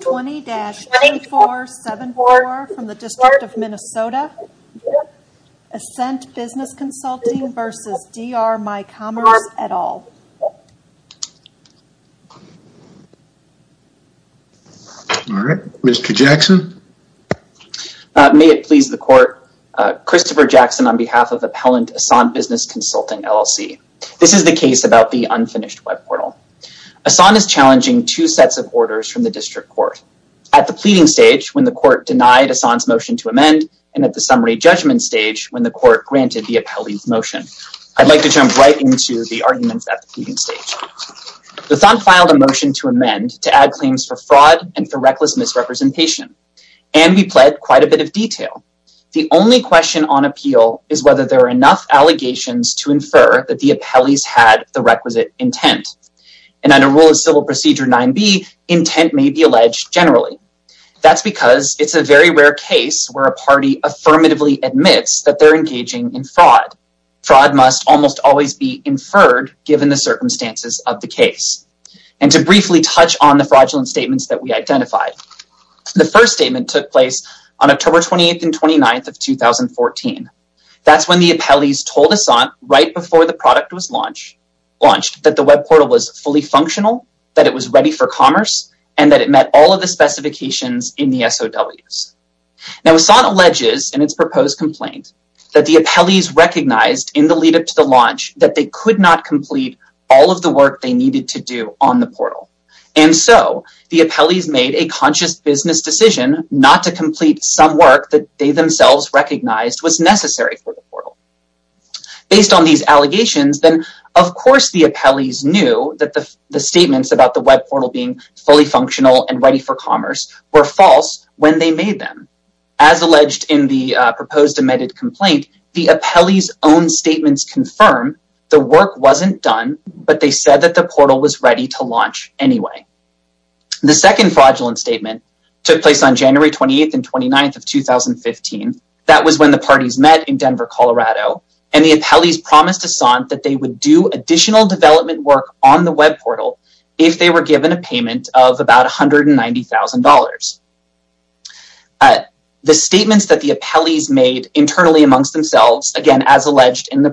20-2474 from the District of Minnesota. Ascente Business Consulting v. DR myCommerce et al. All right, Mr. Jackson. May it please the court, Christopher Jackson on behalf of Appellant Ascente Business Consulting LLC. This is the case about the unfinished web portal. Ascente is challenging two sets of orders from the District Court. At the pleading stage, when the court denied Ascente's motion to amend, and at the summary judgment stage, when the court granted the appellee's motion. I'd like to jump right into the arguments at the pleading stage. The Thomp filed a motion to amend to add claims for fraud and for reckless misrepresentation, and we pled quite a bit of detail. The only question on appeal is whether there are enough allegations to infer that the appellees had the requisite intent. And under Rule of Civil Procedure 9b, intent may be alleged generally. That's because it's a very rare case where a party affirmatively admits that they're engaging in fraud. Fraud must almost always be inferred given the circumstances of the case. And to briefly touch on the fraudulent statements that we identified. The first statement took place on October 28th and 29th of 2014. That's when the appellees told Ascente right before the product was launched that the web portal was fully functional, that it was ready for commerce, and that it met all of the specifications in the SOWs. Now, Ascente alleges in its proposed complaint that the appellees recognized in the lead-up to the launch that they could not complete all of the work they needed to do on the portal. And so, the appellees made a conscious business decision not to complete some work that they themselves recognized was necessary for the portal. Based on these allegations, then of course the appellees knew that the statements about the web portal being fully functional and ready for commerce were false when they made them. As alleged in the proposed amended complaint, the appellees' own statements confirm the work wasn't done, but they said that the portal was ready to launch anyway. The second fraudulent statement took place on January 28th and 29th of 2015. That was when the parties met in Denver, Colorado, and the appellees promised Ascente that they would do additional development work on the web portal if they were given a payment of about $190,000. The statements that the appellees made internally amongst themselves, again as alleged in the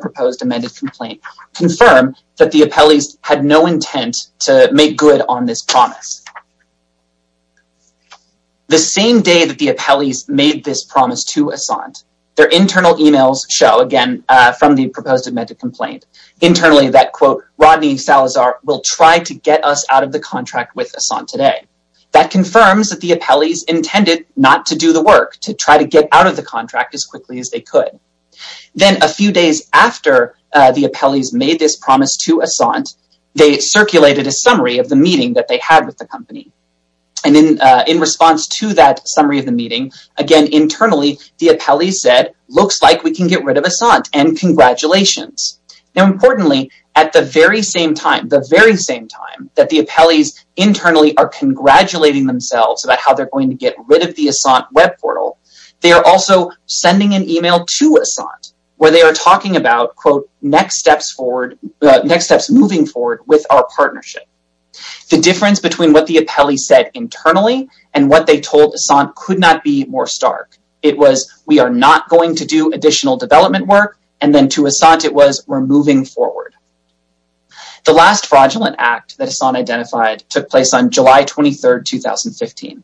The same day that the appellees made this promise to Ascente, their internal emails show again from the proposed amended complaint internally that quote Rodney Salazar will try to get us out of the contract with Ascente today. That confirms that the appellees intended not to do the work, to try to get out of the contract as quickly as they could. Then a few days after the appellees made this promise to Ascente, they circulated a summary of the meeting that they had with the company. In response to that summary of the meeting, again internally the appellees said looks like we can get rid of Ascente and congratulations. Now importantly, at the very same time, the very same time that the appellees internally are congratulating themselves about how they're going to get rid of the Ascente web portal, they are also sending an email to Ascente where they are talking about quote next steps moving forward with our partnership. The difference between what the appellee said internally and what they told Ascente could not be more stark. It was we are not going to do additional development work and then to Ascente it was we're moving forward. The last fraudulent act that Ascente identified took place on July 23rd 2015.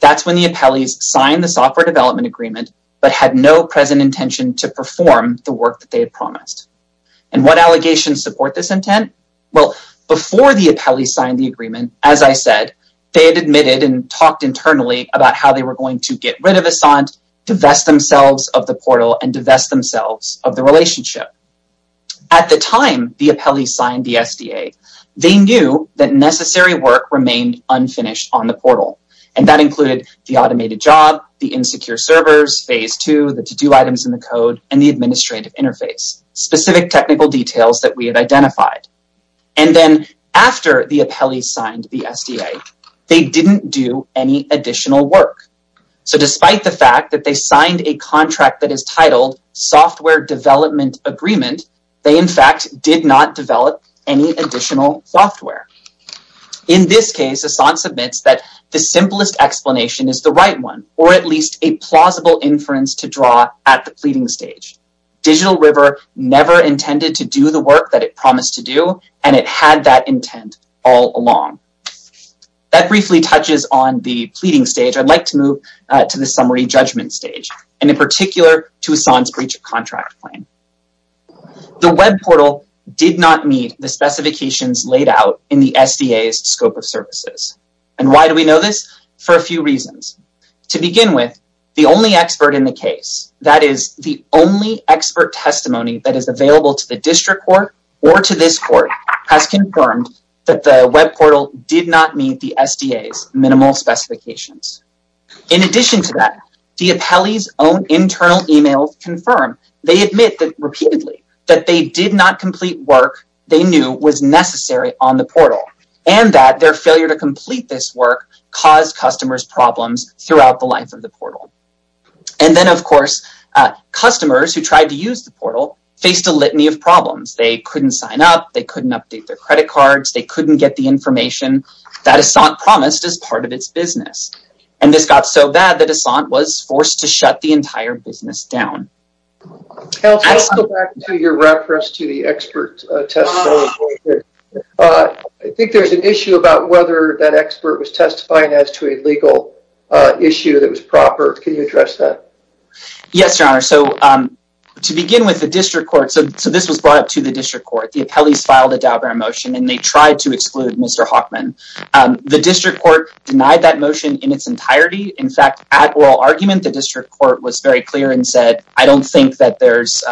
That's when the appellees signed the software development agreement but had no present intention to perform the work that they had promised. And what allegations support this intent? Well before the appellee signed the agreement, as I said, they had admitted and talked internally about how they were going to get rid of Ascente, divest themselves of the portal, and divest themselves of the relationship. At the time the appellee signed the SDA, they knew that necessary work remained unfinished on the portal and that included the automated job, the insecure servers, phase two, the to-do items in the code, and the administrative interface. Specific technical details that we had identified. And then after the appellee signed the SDA, they didn't do any additional work. So despite the fact that they signed a contract that is titled software development agreement, they in fact did not develop any additional software. In this case, Ascente submits that the simplest explanation is the right one or at least a plausible inference to draw at the pleading stage. Digital River never intended to do the work that it promised to do and it had that intent all along. That briefly touches on the pleading stage. I'd like to move to the summary judgment stage and in particular to Ascente's breach of contract claim. The web portal did not meet the specifications laid out in the SDA's scope of services. And why do we know this? For a few reasons. To begin with, the only expert in the case, that is the only expert testimony that is available to the district court or to this court, has confirmed that the web portal did not meet the SDA's minimal specifications. In addition to that, the appellee's own internal emails confirm, they admit that repeatedly, that they did not complete work they knew was necessary on the portal and that their failure to complete this work caused customers problems throughout the life of the portal. And then of course, customers who tried to use the portal faced a litany of problems. They couldn't sign up, they couldn't update their credit cards, they couldn't get the information that Ascente promised as part of its business. And this got so bad that Ascente was forced to shut the entire business down. I'll go back to your reference to the expert testimony. I think there's an issue about whether that expert was testifying as to a legal issue that was proper. Can you address that? Yes, your honor. So to begin with, the district court, so this was brought up to the district court. The appellees filed a Dow Brown motion and they tried to exclude Mr. Hockman. The district court denied that motion in its entirety. In fact, at oral argument, the district court was very clear and said, I don't think that there's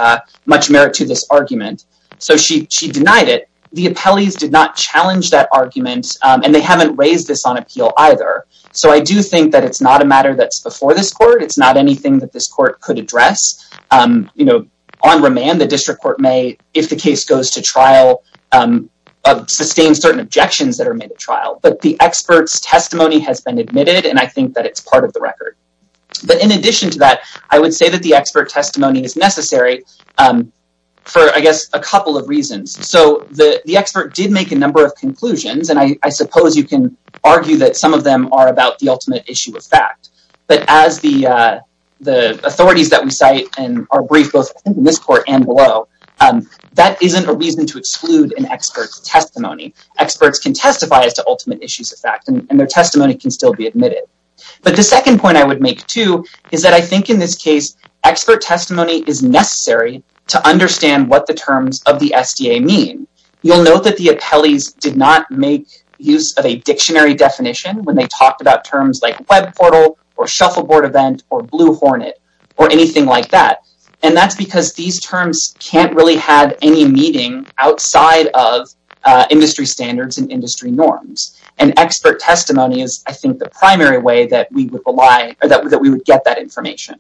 much merit to this argument. So she denied it. The appellees did not challenge that argument and they haven't raised this on appeal either. So I do think that it's not a matter that's before this court. It's not anything that this court could address. On remand, the district court may, if the case goes to trial, sustain certain objections that are made at trial. But the expert's testimony has been admitted and I think that it's part of the record. But in addition to that, I would say that expert testimony is necessary for, I guess, a couple of reasons. So the expert did make a number of conclusions and I suppose you can argue that some of them are about the ultimate issue of fact. But as the authorities that we cite in our brief, both in this court and below, that isn't a reason to exclude an expert's testimony. Experts can testify as to ultimate issues of fact and their testimony can still be admitted. But the second point I would make too is that I think in this case, expert testimony is necessary to understand what the terms of the SDA mean. You'll note that the appellees did not make use of a dictionary definition when they talked about terms like web portal or shuffleboard event or blue hornet or anything like that. And that's because these terms can't really have any meaning outside of industry standards and industry norms. And expert testimony is, I think, the primary way that we would rely or that we would get that information.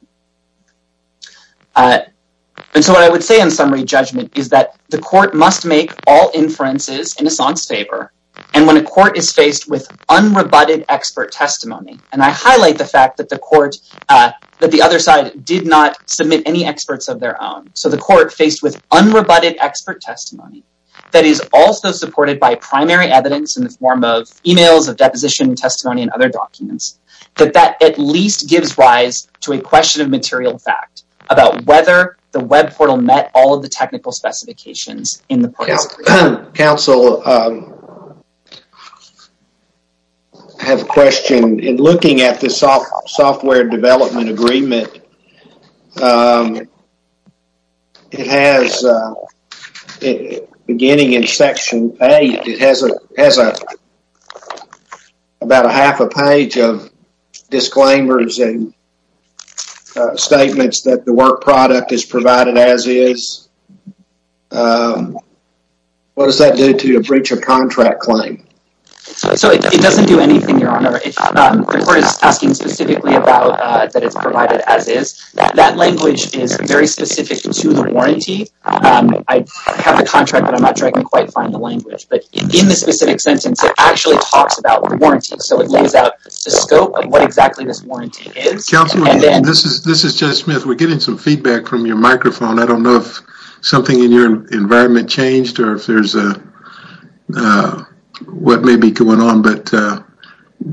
And so what I would say in summary judgment is that the court must make all inferences in a son's favor and when a court is faced with unrebutted expert testimony, and I highlight the fact that the court, that the other side did not submit any experts of their own. So the court faced with unrebutted expert testimony that is also supported by primary evidence in the form of deposition testimony and other documents. But that at least gives rise to a question of material fact about whether the web portal met all of the technical specifications in the process. Council have a question in looking at the software development agreement. Um it has uh beginning in section eight it has a has a about a half a page of disclaimers and statements that the work product is provided as is. Um what does that do to a breach of contract claim? So it doesn't do anything your honor. The court is asking specifically about uh that it's provided as is. That language is very specific to the warranty. Um I have the contract but I'm not sure I can quite find the language. But in the specific sentence it actually talks about the warranty. So it lays out the scope of what exactly this warranty is. Councilman, this is this is Judge Smith. We're getting some feedback from your microphone. I don't know if something in your environment changed or if there's a uh what may be going on. But uh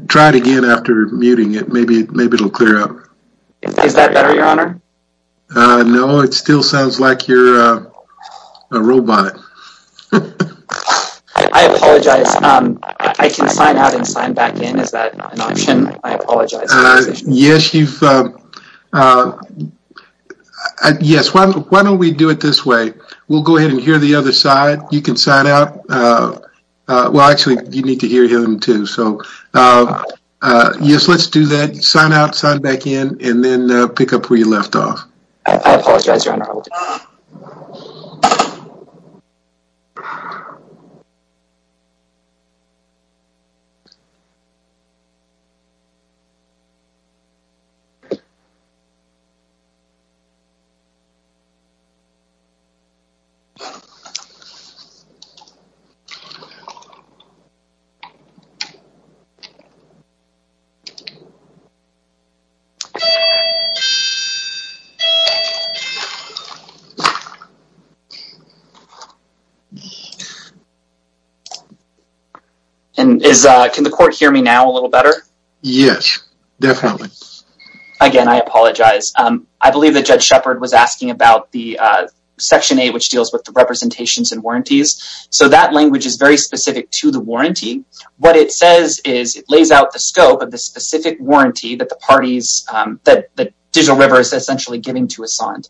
try it again after muting it. Maybe maybe it'll clear up. Is that better your honor? Uh no it still sounds like you're a robot. I apologize. Um I can sign out and sign back in. Is that an option? I apologize. Uh yes you've uh yes. Why why don't we do it this way? We'll go ahead and hear the other side. You can sign out uh uh well actually you need to hear him too. So uh uh yes let's do that. Sign out, sign back in, and then uh pick up where you left off. I apologize your honor. So and is uh can the court hear me now a little better? Yes definitely. Again I apologize. Um I believe that Judge Shepard was asking about the uh section 8 which deals with the representations and warranties. So that language is very specific to the warranty. What it says is it lays out the scope of the specific warranty that the parties um that the Digital River is essentially giving to Assand.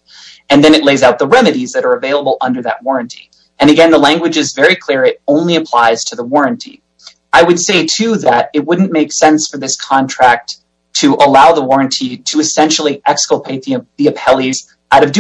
And then it lays out the remedies that are available under that warranty. And again the language is very clear. It only applies to the warranty. I would say too that it wouldn't make sense for this contract to allow the warranty to essentially exculpate the appellees out of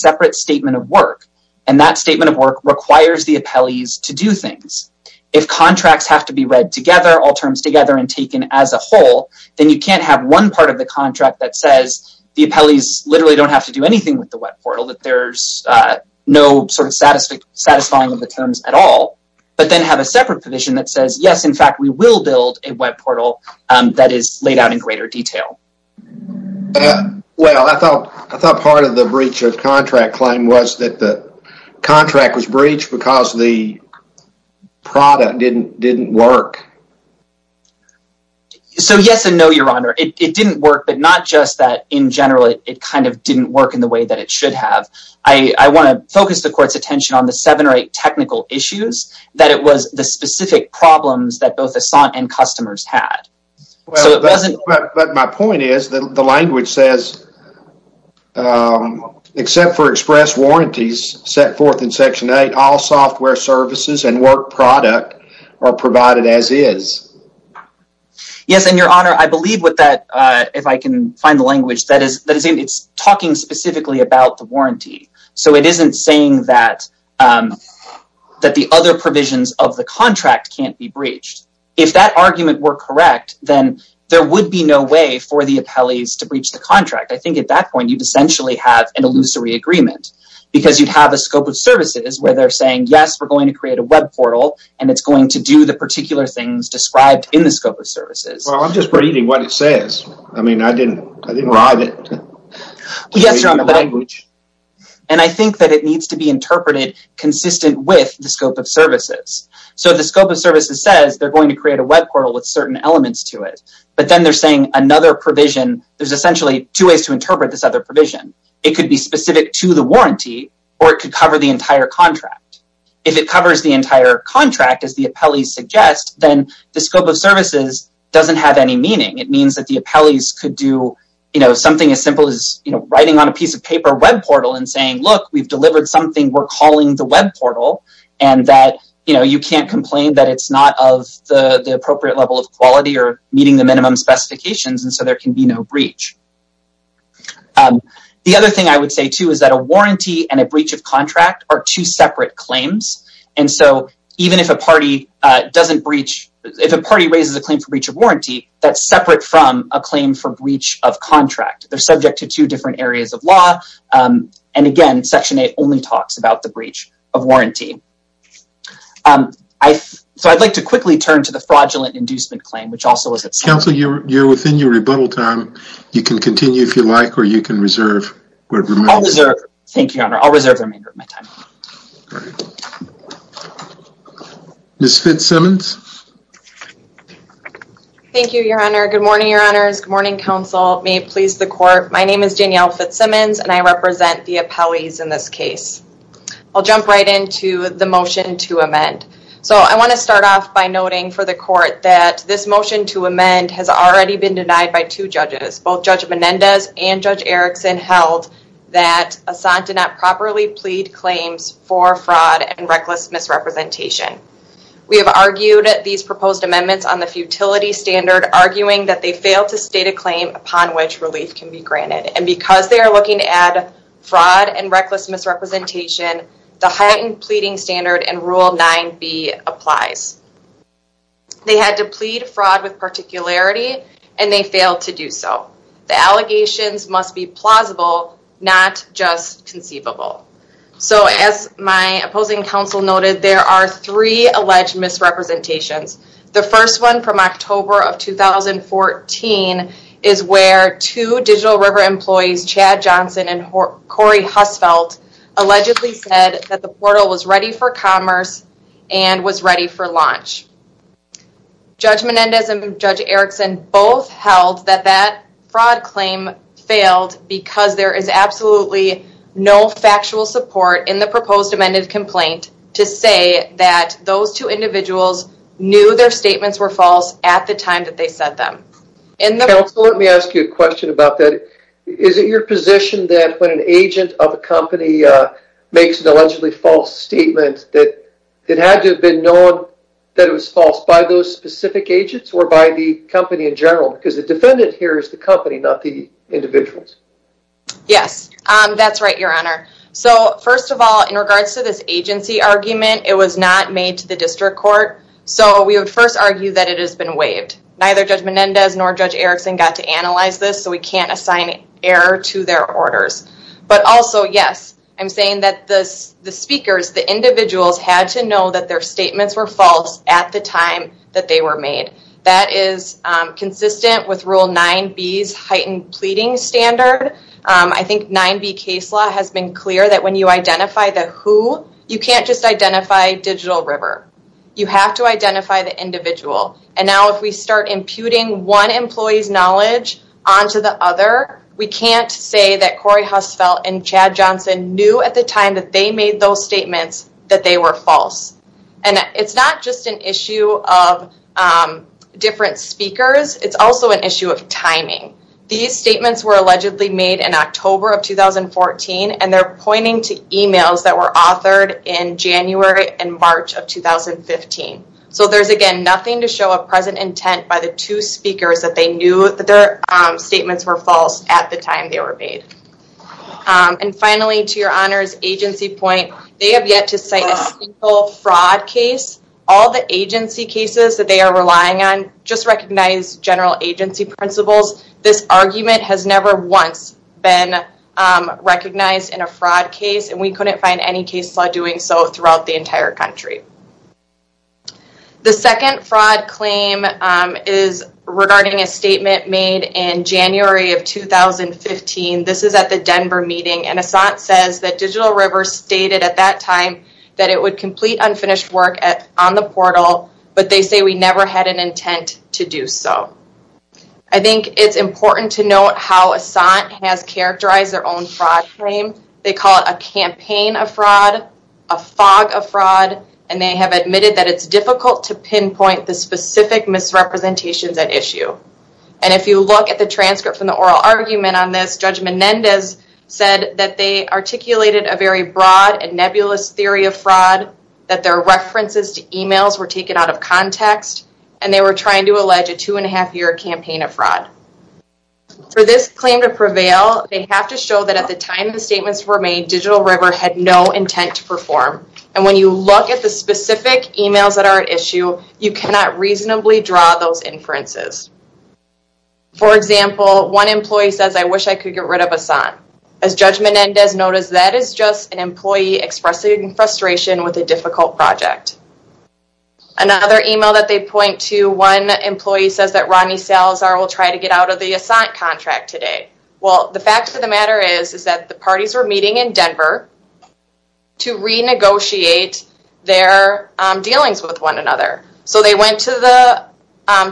separate statement of work. And that statement of work requires the appellees to do things. If contracts have to be read together, all terms together, and taken as a whole, then you can't have one part of the contract that says the appellees literally don't have to do anything with the web portal. That there's uh no sort of satisfactory satisfying of the terms at all. But then have a separate position that says yes in fact we will build a web portal that is laid out in greater detail. Well I thought I thought part of the breach of contract claim was that the contract was breached because the product didn't didn't work. So yes and no your honor. It didn't work but not just that in general it kind of didn't work in the way that it should have. I want to focus the court's attention on the seven or eight technical issues that it was the specific problems that both Assant and customers had. But my point is that the language says except for express warranties set forth in section eight all software services and work product are provided as is. Yes and your honor I believe with that uh if I can find the language that is it's talking specifically about the warranty. So it isn't saying that um that the other provisions of the contract can't be breached. If that argument were correct then there would be no way for the appellees to breach the contract. I think at that point you'd essentially have an illusory agreement because you'd have a scope of services where they're saying yes we're going to create a web portal and it's going to do the particular things described in the scope of yes you're on the language and I think that it needs to be interpreted consistent with the scope of services. So the scope of services says they're going to create a web portal with certain elements to it but then they're saying another provision there's essentially two ways to interpret this other provision. It could be specific to the warranty or it could cover the entire contract. If it covers the entire contract as the appellees suggest then the scope of services doesn't have any meaning. It means that the appellees could do you know something as simple as you know writing on a piece of paper web portal and saying look we've delivered something we're calling the web portal and that you know you can't complain that it's not of the the appropriate level of quality or meeting the minimum specifications and so there can be no breach. The other thing I would say too is that a warranty and a breach of contract are two separate claims and so even if a party uh breach of warranty that's separate from a claim for breach of contract. They're subject to two different areas of law um and again section 8 only talks about the breach of warranty. Um I so I'd like to quickly turn to the fraudulent inducement claim which also is it. Counselor you're within your rebuttal time you can continue if you like or you can reserve. I'll reserve thank you your honor I'll reserve the remainder of my time. Ms. Fitzsimmons. Thank you your honor. Good morning your honors. Good morning counsel. May it please the court. My name is Danielle Fitzsimmons and I represent the appellees in this case. I'll jump right into the motion to amend. So I want to start off by noting for the court that this motion to amend has already been denied by two judges. Both Judge Menendez and Judge Erickson held that Asante did not properly plead claims for fraud and reckless misrepresentation. We have argued these proposed amendments on the futility standard arguing that they failed to state a claim upon which relief can be granted and because they are looking at fraud and reckless misrepresentation the heightened pleading standard and rule 9b applies. They had to plead fraud with particularity and they failed to do so. The allegations must be plausible not just conceivable. So as my opposing counsel noted there are three alleged misrepresentations. The first one from October of 2014 is where two Digital River employees Chad Johnson and Corey Hussfeld allegedly said that the portal was ready for commerce and was ready for launch. Judge Menendez and Judge Erickson both held that that fraud claim failed because there is absolutely no factual support in the proposed amended complaint to say that those two individuals knew their statements were false at the time that they said them. Counsel let me ask you a question about that. Is it your position that when an agent of a company makes an allegedly false statement that it had to have been known that it was false by those specific agents or by the company in individuals? Yes that's right your honor. So first of all in regards to this agency argument it was not made to the district court so we would first argue that it has been waived. Neither Judge Menendez nor Judge Erickson got to analyze this so we can't assign error to their orders. But also yes I'm saying that the speakers the individuals had to know that their statements were false at the time that they were made. That is consistent with rule 9b's heightened pleading standard. I think 9b case law has been clear that when you identify the who you can't just identify Digital River. You have to identify the individual and now if we start imputing one employee's knowledge onto the other we can't say that Corey Hussfeld and Chad Johnson knew at the time that made those statements that they were false. And it's not just an issue of different speakers it's also an issue of timing. These statements were allegedly made in October of 2014 and they're pointing to emails that were authored in January and March of 2015. So there's again nothing to show a present intent by the two speakers that they knew that their statements were false at time they were made. And finally to your honors agency point they have yet to cite a single fraud case. All the agency cases that they are relying on just recognize general agency principles. This argument has never once been recognized in a fraud case and we couldn't find any case law doing so throughout the entire country. The second fraud claim is regarding a statement made in January of 2015. This is at the Denver meeting and Assant says that Digital River stated at that time that it would complete unfinished work on the portal but they say we never had an intent to do so. I think it's important to note how Assant has characterized their own fraud claim. They call it a campaign of fraud, a fog of fraud, and they have admitted that it's difficult to pinpoint the argument on this. Judge Menendez said that they articulated a very broad and nebulous theory of fraud that their references to emails were taken out of context and they were trying to allege a two and a half year campaign of fraud. For this claim to prevail they have to show that at the time the statements were made Digital River had no intent to perform and when you look at the specific emails that are at issue you cannot reasonably draw those inferences. For example one employee says I wish I could get rid of Assant. As Judge Menendez noticed that is just an employee expressing frustration with a difficult project. Another email that they point to one employee says that Ronnie Salazar will try to get out of the Assant contract today. Well the fact of the matter is is that the parties were meeting in Denver to renegotiate their dealings with one another. So they went to the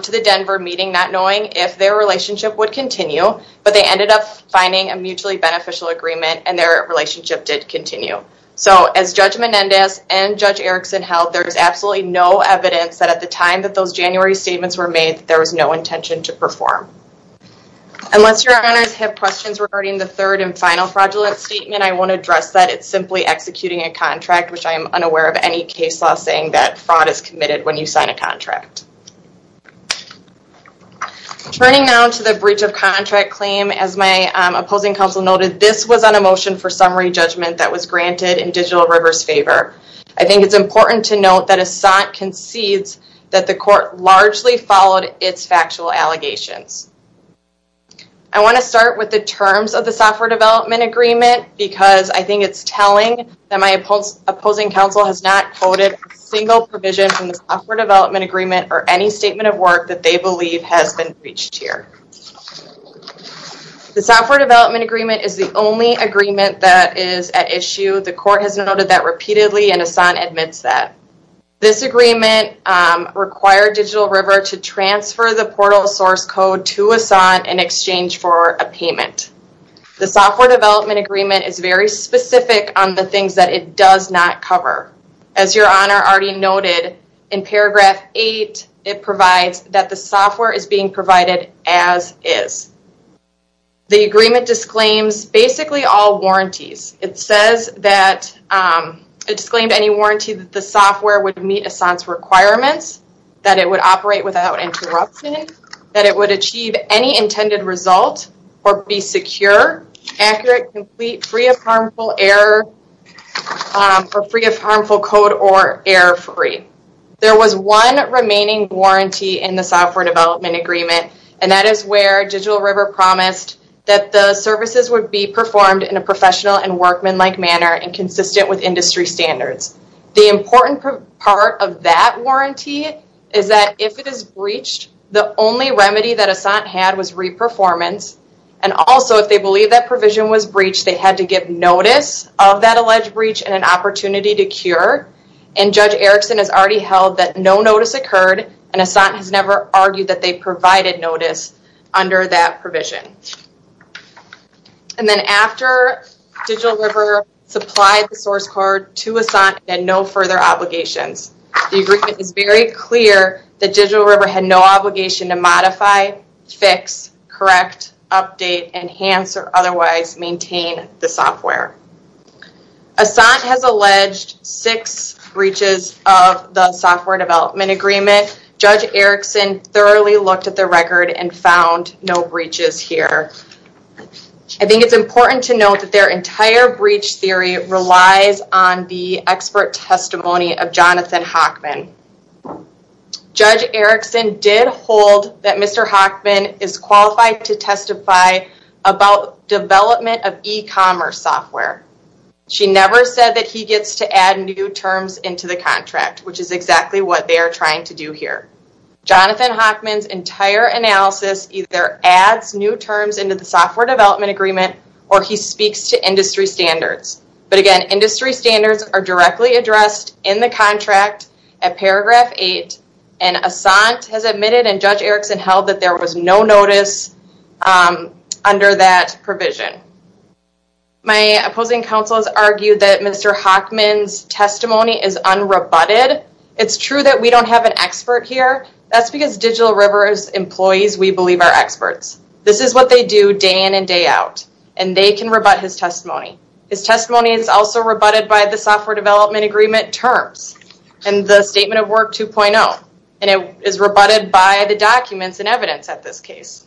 to the Denver meeting not knowing if their relationship would continue but they ended up finding a mutually beneficial agreement and their relationship did continue. So as Judge Menendez and Judge Erickson held there's absolutely no evidence that at the time that those January statements were made there was no intention to perform. Unless your honors have questions regarding the third and final fraudulent statement I won't address that. It's simply executing a contract which I am unaware of any case law saying that fraud is committed when you sign a contract. Turning now to the breach of contract claim as my opposing counsel noted this was on a motion for summary judgment that was granted in Digital River's favor. I think it's important to note that Assant concedes that the court largely followed its factual allegations. I want to start with the terms of the software development agreement because I think it's telling that my opposing counsel has not quoted a single provision from the software development agreement or any statement of work that they believe has been breached here. The software development agreement is the only agreement that is at issue. The court has noted that repeatedly and Assant admits that. This agreement required Digital River to transfer the portal source code to Assant in exchange for a payment. The software development agreement is very specific on the things that it does not cover. As your honor already noted in paragraph eight it provides that the software is being provided as is. The agreement disclaims basically all warranties. It says that it disclaimed any warranty that the software would meet Assant's requirements, that it would operate without interruption, that it would achieve any intended result or be secure, accurate, complete, free of harmful error or free of harmful code or error free. There was one remaining warranty in the software development agreement and that is where Digital River promised that the services would be performed in a professional and workmanlike manner and consistent with industry standards. The important part of that warranty is that if it is breached, they had to give notice of that alleged breach and an opportunity to cure. And Judge Erickson has already held that no notice occurred and Assant has never argued that they provided notice under that provision. And then after Digital River supplied the source code to Assant and no further obligations. The agreement is very clear that Digital River had no obligation to modify, fix, correct, update, enhance or otherwise maintain the software. Assant has alleged six breaches of the software development agreement. Judge Erickson thoroughly looked at the record and found no breaches here. I think it's important to note that their entire breach theory relies on the expert testimony of Jonathan Hockman. Judge Erickson did hold that Mr. Hockman is qualified to testify about development of e-commerce software. She never said that he gets to add new terms into the contract, which is exactly what they are trying to do here. Jonathan Hockman's entire analysis either adds new terms into the software development agreement or he speaks to industry standards. But again, industry standards are directly addressed in the contract at paragraph eight and Assant has admitted and Judge Erickson held that there was no notice under that provision. My opposing counsel has argued that Mr. Hockman's testimony is unrebutted. It's true that we don't have an expert here. That's because Digital River's and they can rebut his testimony. His testimony is also rebutted by the software development agreement terms and the statement of work 2.0 and it is rebutted by the documents and evidence at this case.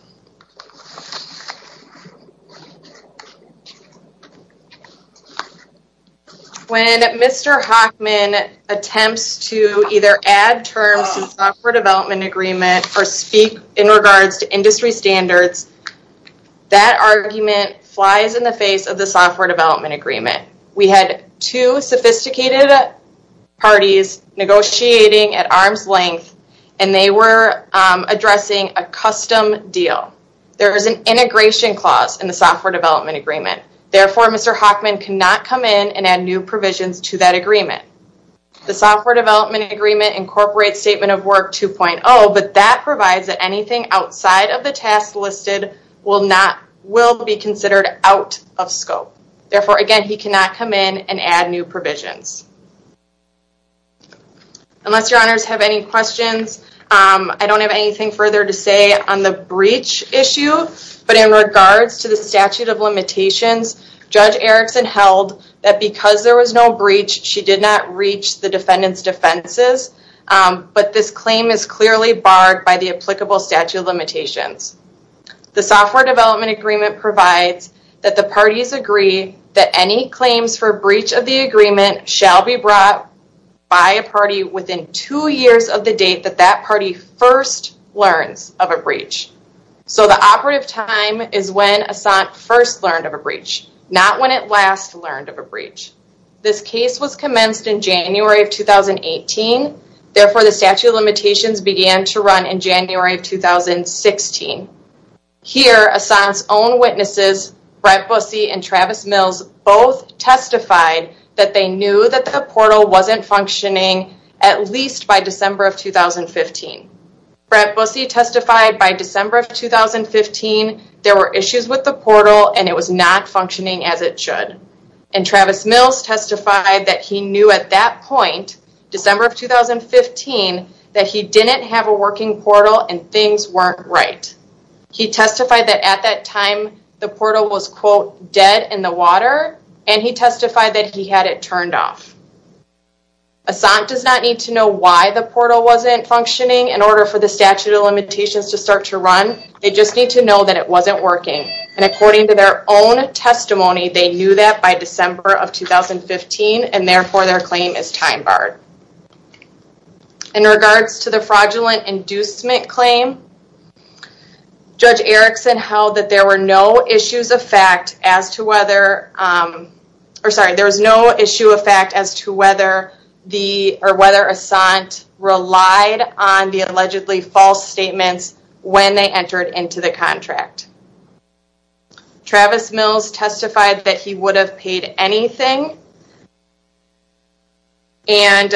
When Mr. Hockman attempts to either add terms to software development agreement or speak in regards to industry standards, that argument flies in the face of the software development agreement. We had two sophisticated parties negotiating at arm's length and they were addressing a custom deal. There is an integration clause in the software development agreement. Therefore, Mr. Hockman cannot come in and add new provisions to that agreement. The software development agreement incorporates statement of work 2.0 but that provides that outside of the task listed will be considered out of scope. Therefore, again, he cannot come in and add new provisions. Unless your honors have any questions, I don't have anything further to say on the breach issue but in regards to the statute of limitations, Judge Erickson held that because there was no breach, she did not reach the defendant's defenses but this claim is clearly barred by the applicable statute of limitations. The software development agreement provides that the parties agree that any claims for breach of the agreement shall be brought by a party within two years of the date that that party first learns of a breach. So the operative time is when Assant first learned of a breach, not when it last learned of a breach. This case was commenced in January of 2018. Therefore, the statute of limitations began to run in January of 2016. Here, Assant's own witnesses, Brett Bussey and Travis Mills, both testified that they knew that the portal wasn't functioning at least by December of 2015. Brett Bussey testified by December of 2015, there were issues with the portal and it was not functioning as it should and Travis Mills testified that he knew at that point, December of 2015, that he didn't have a working portal and things weren't right. He testified that at that time, the portal was, quote, dead in the water and he testified that he had it turned off. Assant does not need to know why the portal wasn't functioning in order for the statute of limitations to start to run. They just need to know that it wasn't working and according to their own testimony, they knew that by December of 2015 and therefore their claim is time barred. In regards to the fraudulent inducement claim, Judge Erickson held that there were no issues of fact as to whether, or sorry, there was no issue of fact as to whether the, or whether Assant relied on the allegedly false statements when they entered into the contract. Travis Mills testified that he would have paid anything and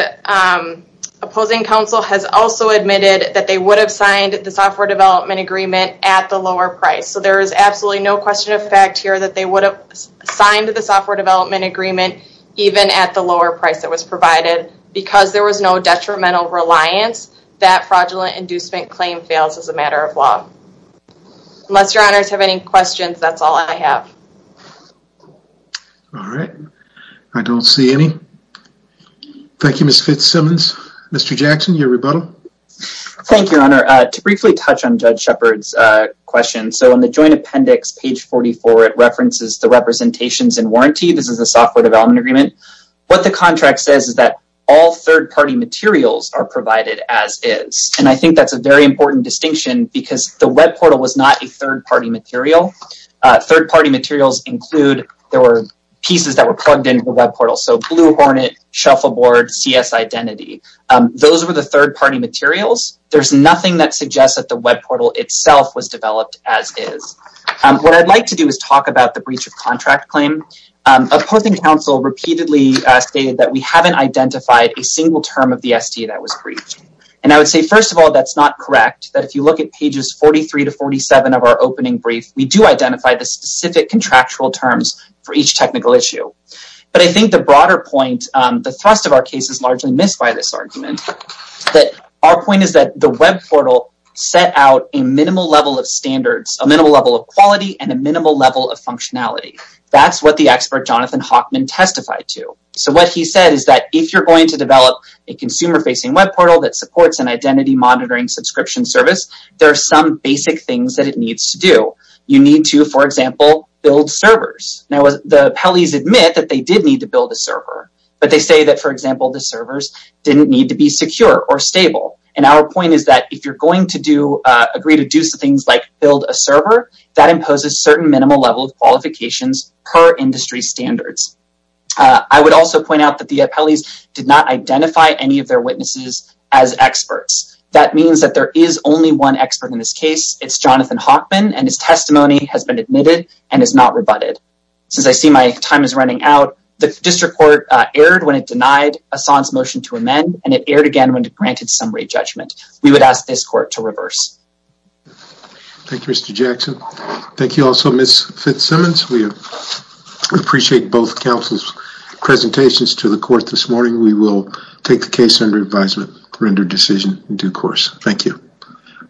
opposing counsel has also admitted that they would have signed the software development agreement at the lower price. So there is absolutely no question of fact here that they would have signed the software development agreement even at the lower price it was provided because there was no detrimental reliance that fraudulent inducement claim fails as a matter of law. Unless your honors have any questions, that's all I have. All right, I don't see any. Thank you, Ms. Fitzsimmons. Mr. Jackson, your rebuttal. Thank you, your honor. To briefly touch on Judge Shepard's question. So in the joint appendix, page 44, it references the representations and warranty. This is a software development agreement. What the contract says is that all third-party materials are provided as is. And I think that's a very important distinction because the web portal was not a third-party material. Third-party materials include, there were pieces that were plugged into the web portal. So Blue Hornet, Shuffleboard, CS Identity. Those were the third-party materials. There's nothing that suggests that the web portal itself was developed as is. What I'd like to do is talk about the stated that we haven't identified a single term of the SD that was breached. And I would say, first of all, that's not correct. That if you look at pages 43 to 47 of our opening brief, we do identify the specific contractual terms for each technical issue. But I think the broader point, the thrust of our case is largely missed by this argument. That our point is that the web portal set out a minimal level of standards, a minimal level of quality, and a minimal level of functionality. That's what the expert Jonathan Hockman testified to. So what he said is that if you're going to develop a consumer-facing web portal that supports an identity monitoring subscription service, there are some basic things that it needs to do. You need to, for example, build servers. Now the Pellies admit that they did need to build a server, but they say that, for example, the servers didn't need to be secure or stable. And our point is that if you're going agree to do things like build a server, that imposes certain minimal level of qualifications per industry standards. I would also point out that the Pellies did not identify any of their witnesses as experts. That means that there is only one expert in this case. It's Jonathan Hockman, and his testimony has been admitted and is not rebutted. Since I see my time is running out, the district court erred when it denied Ahsan's motion to amend, and it erred again when it granted summary judgment. We would ask this court to reverse. Thank you, Mr. Jackson. Thank you also, Ms. Fitzsimmons. We appreciate both counsel's presentations to the court this morning. We will take the case under advisement, render decision in due course. Thank you.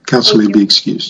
Counsel may be excused.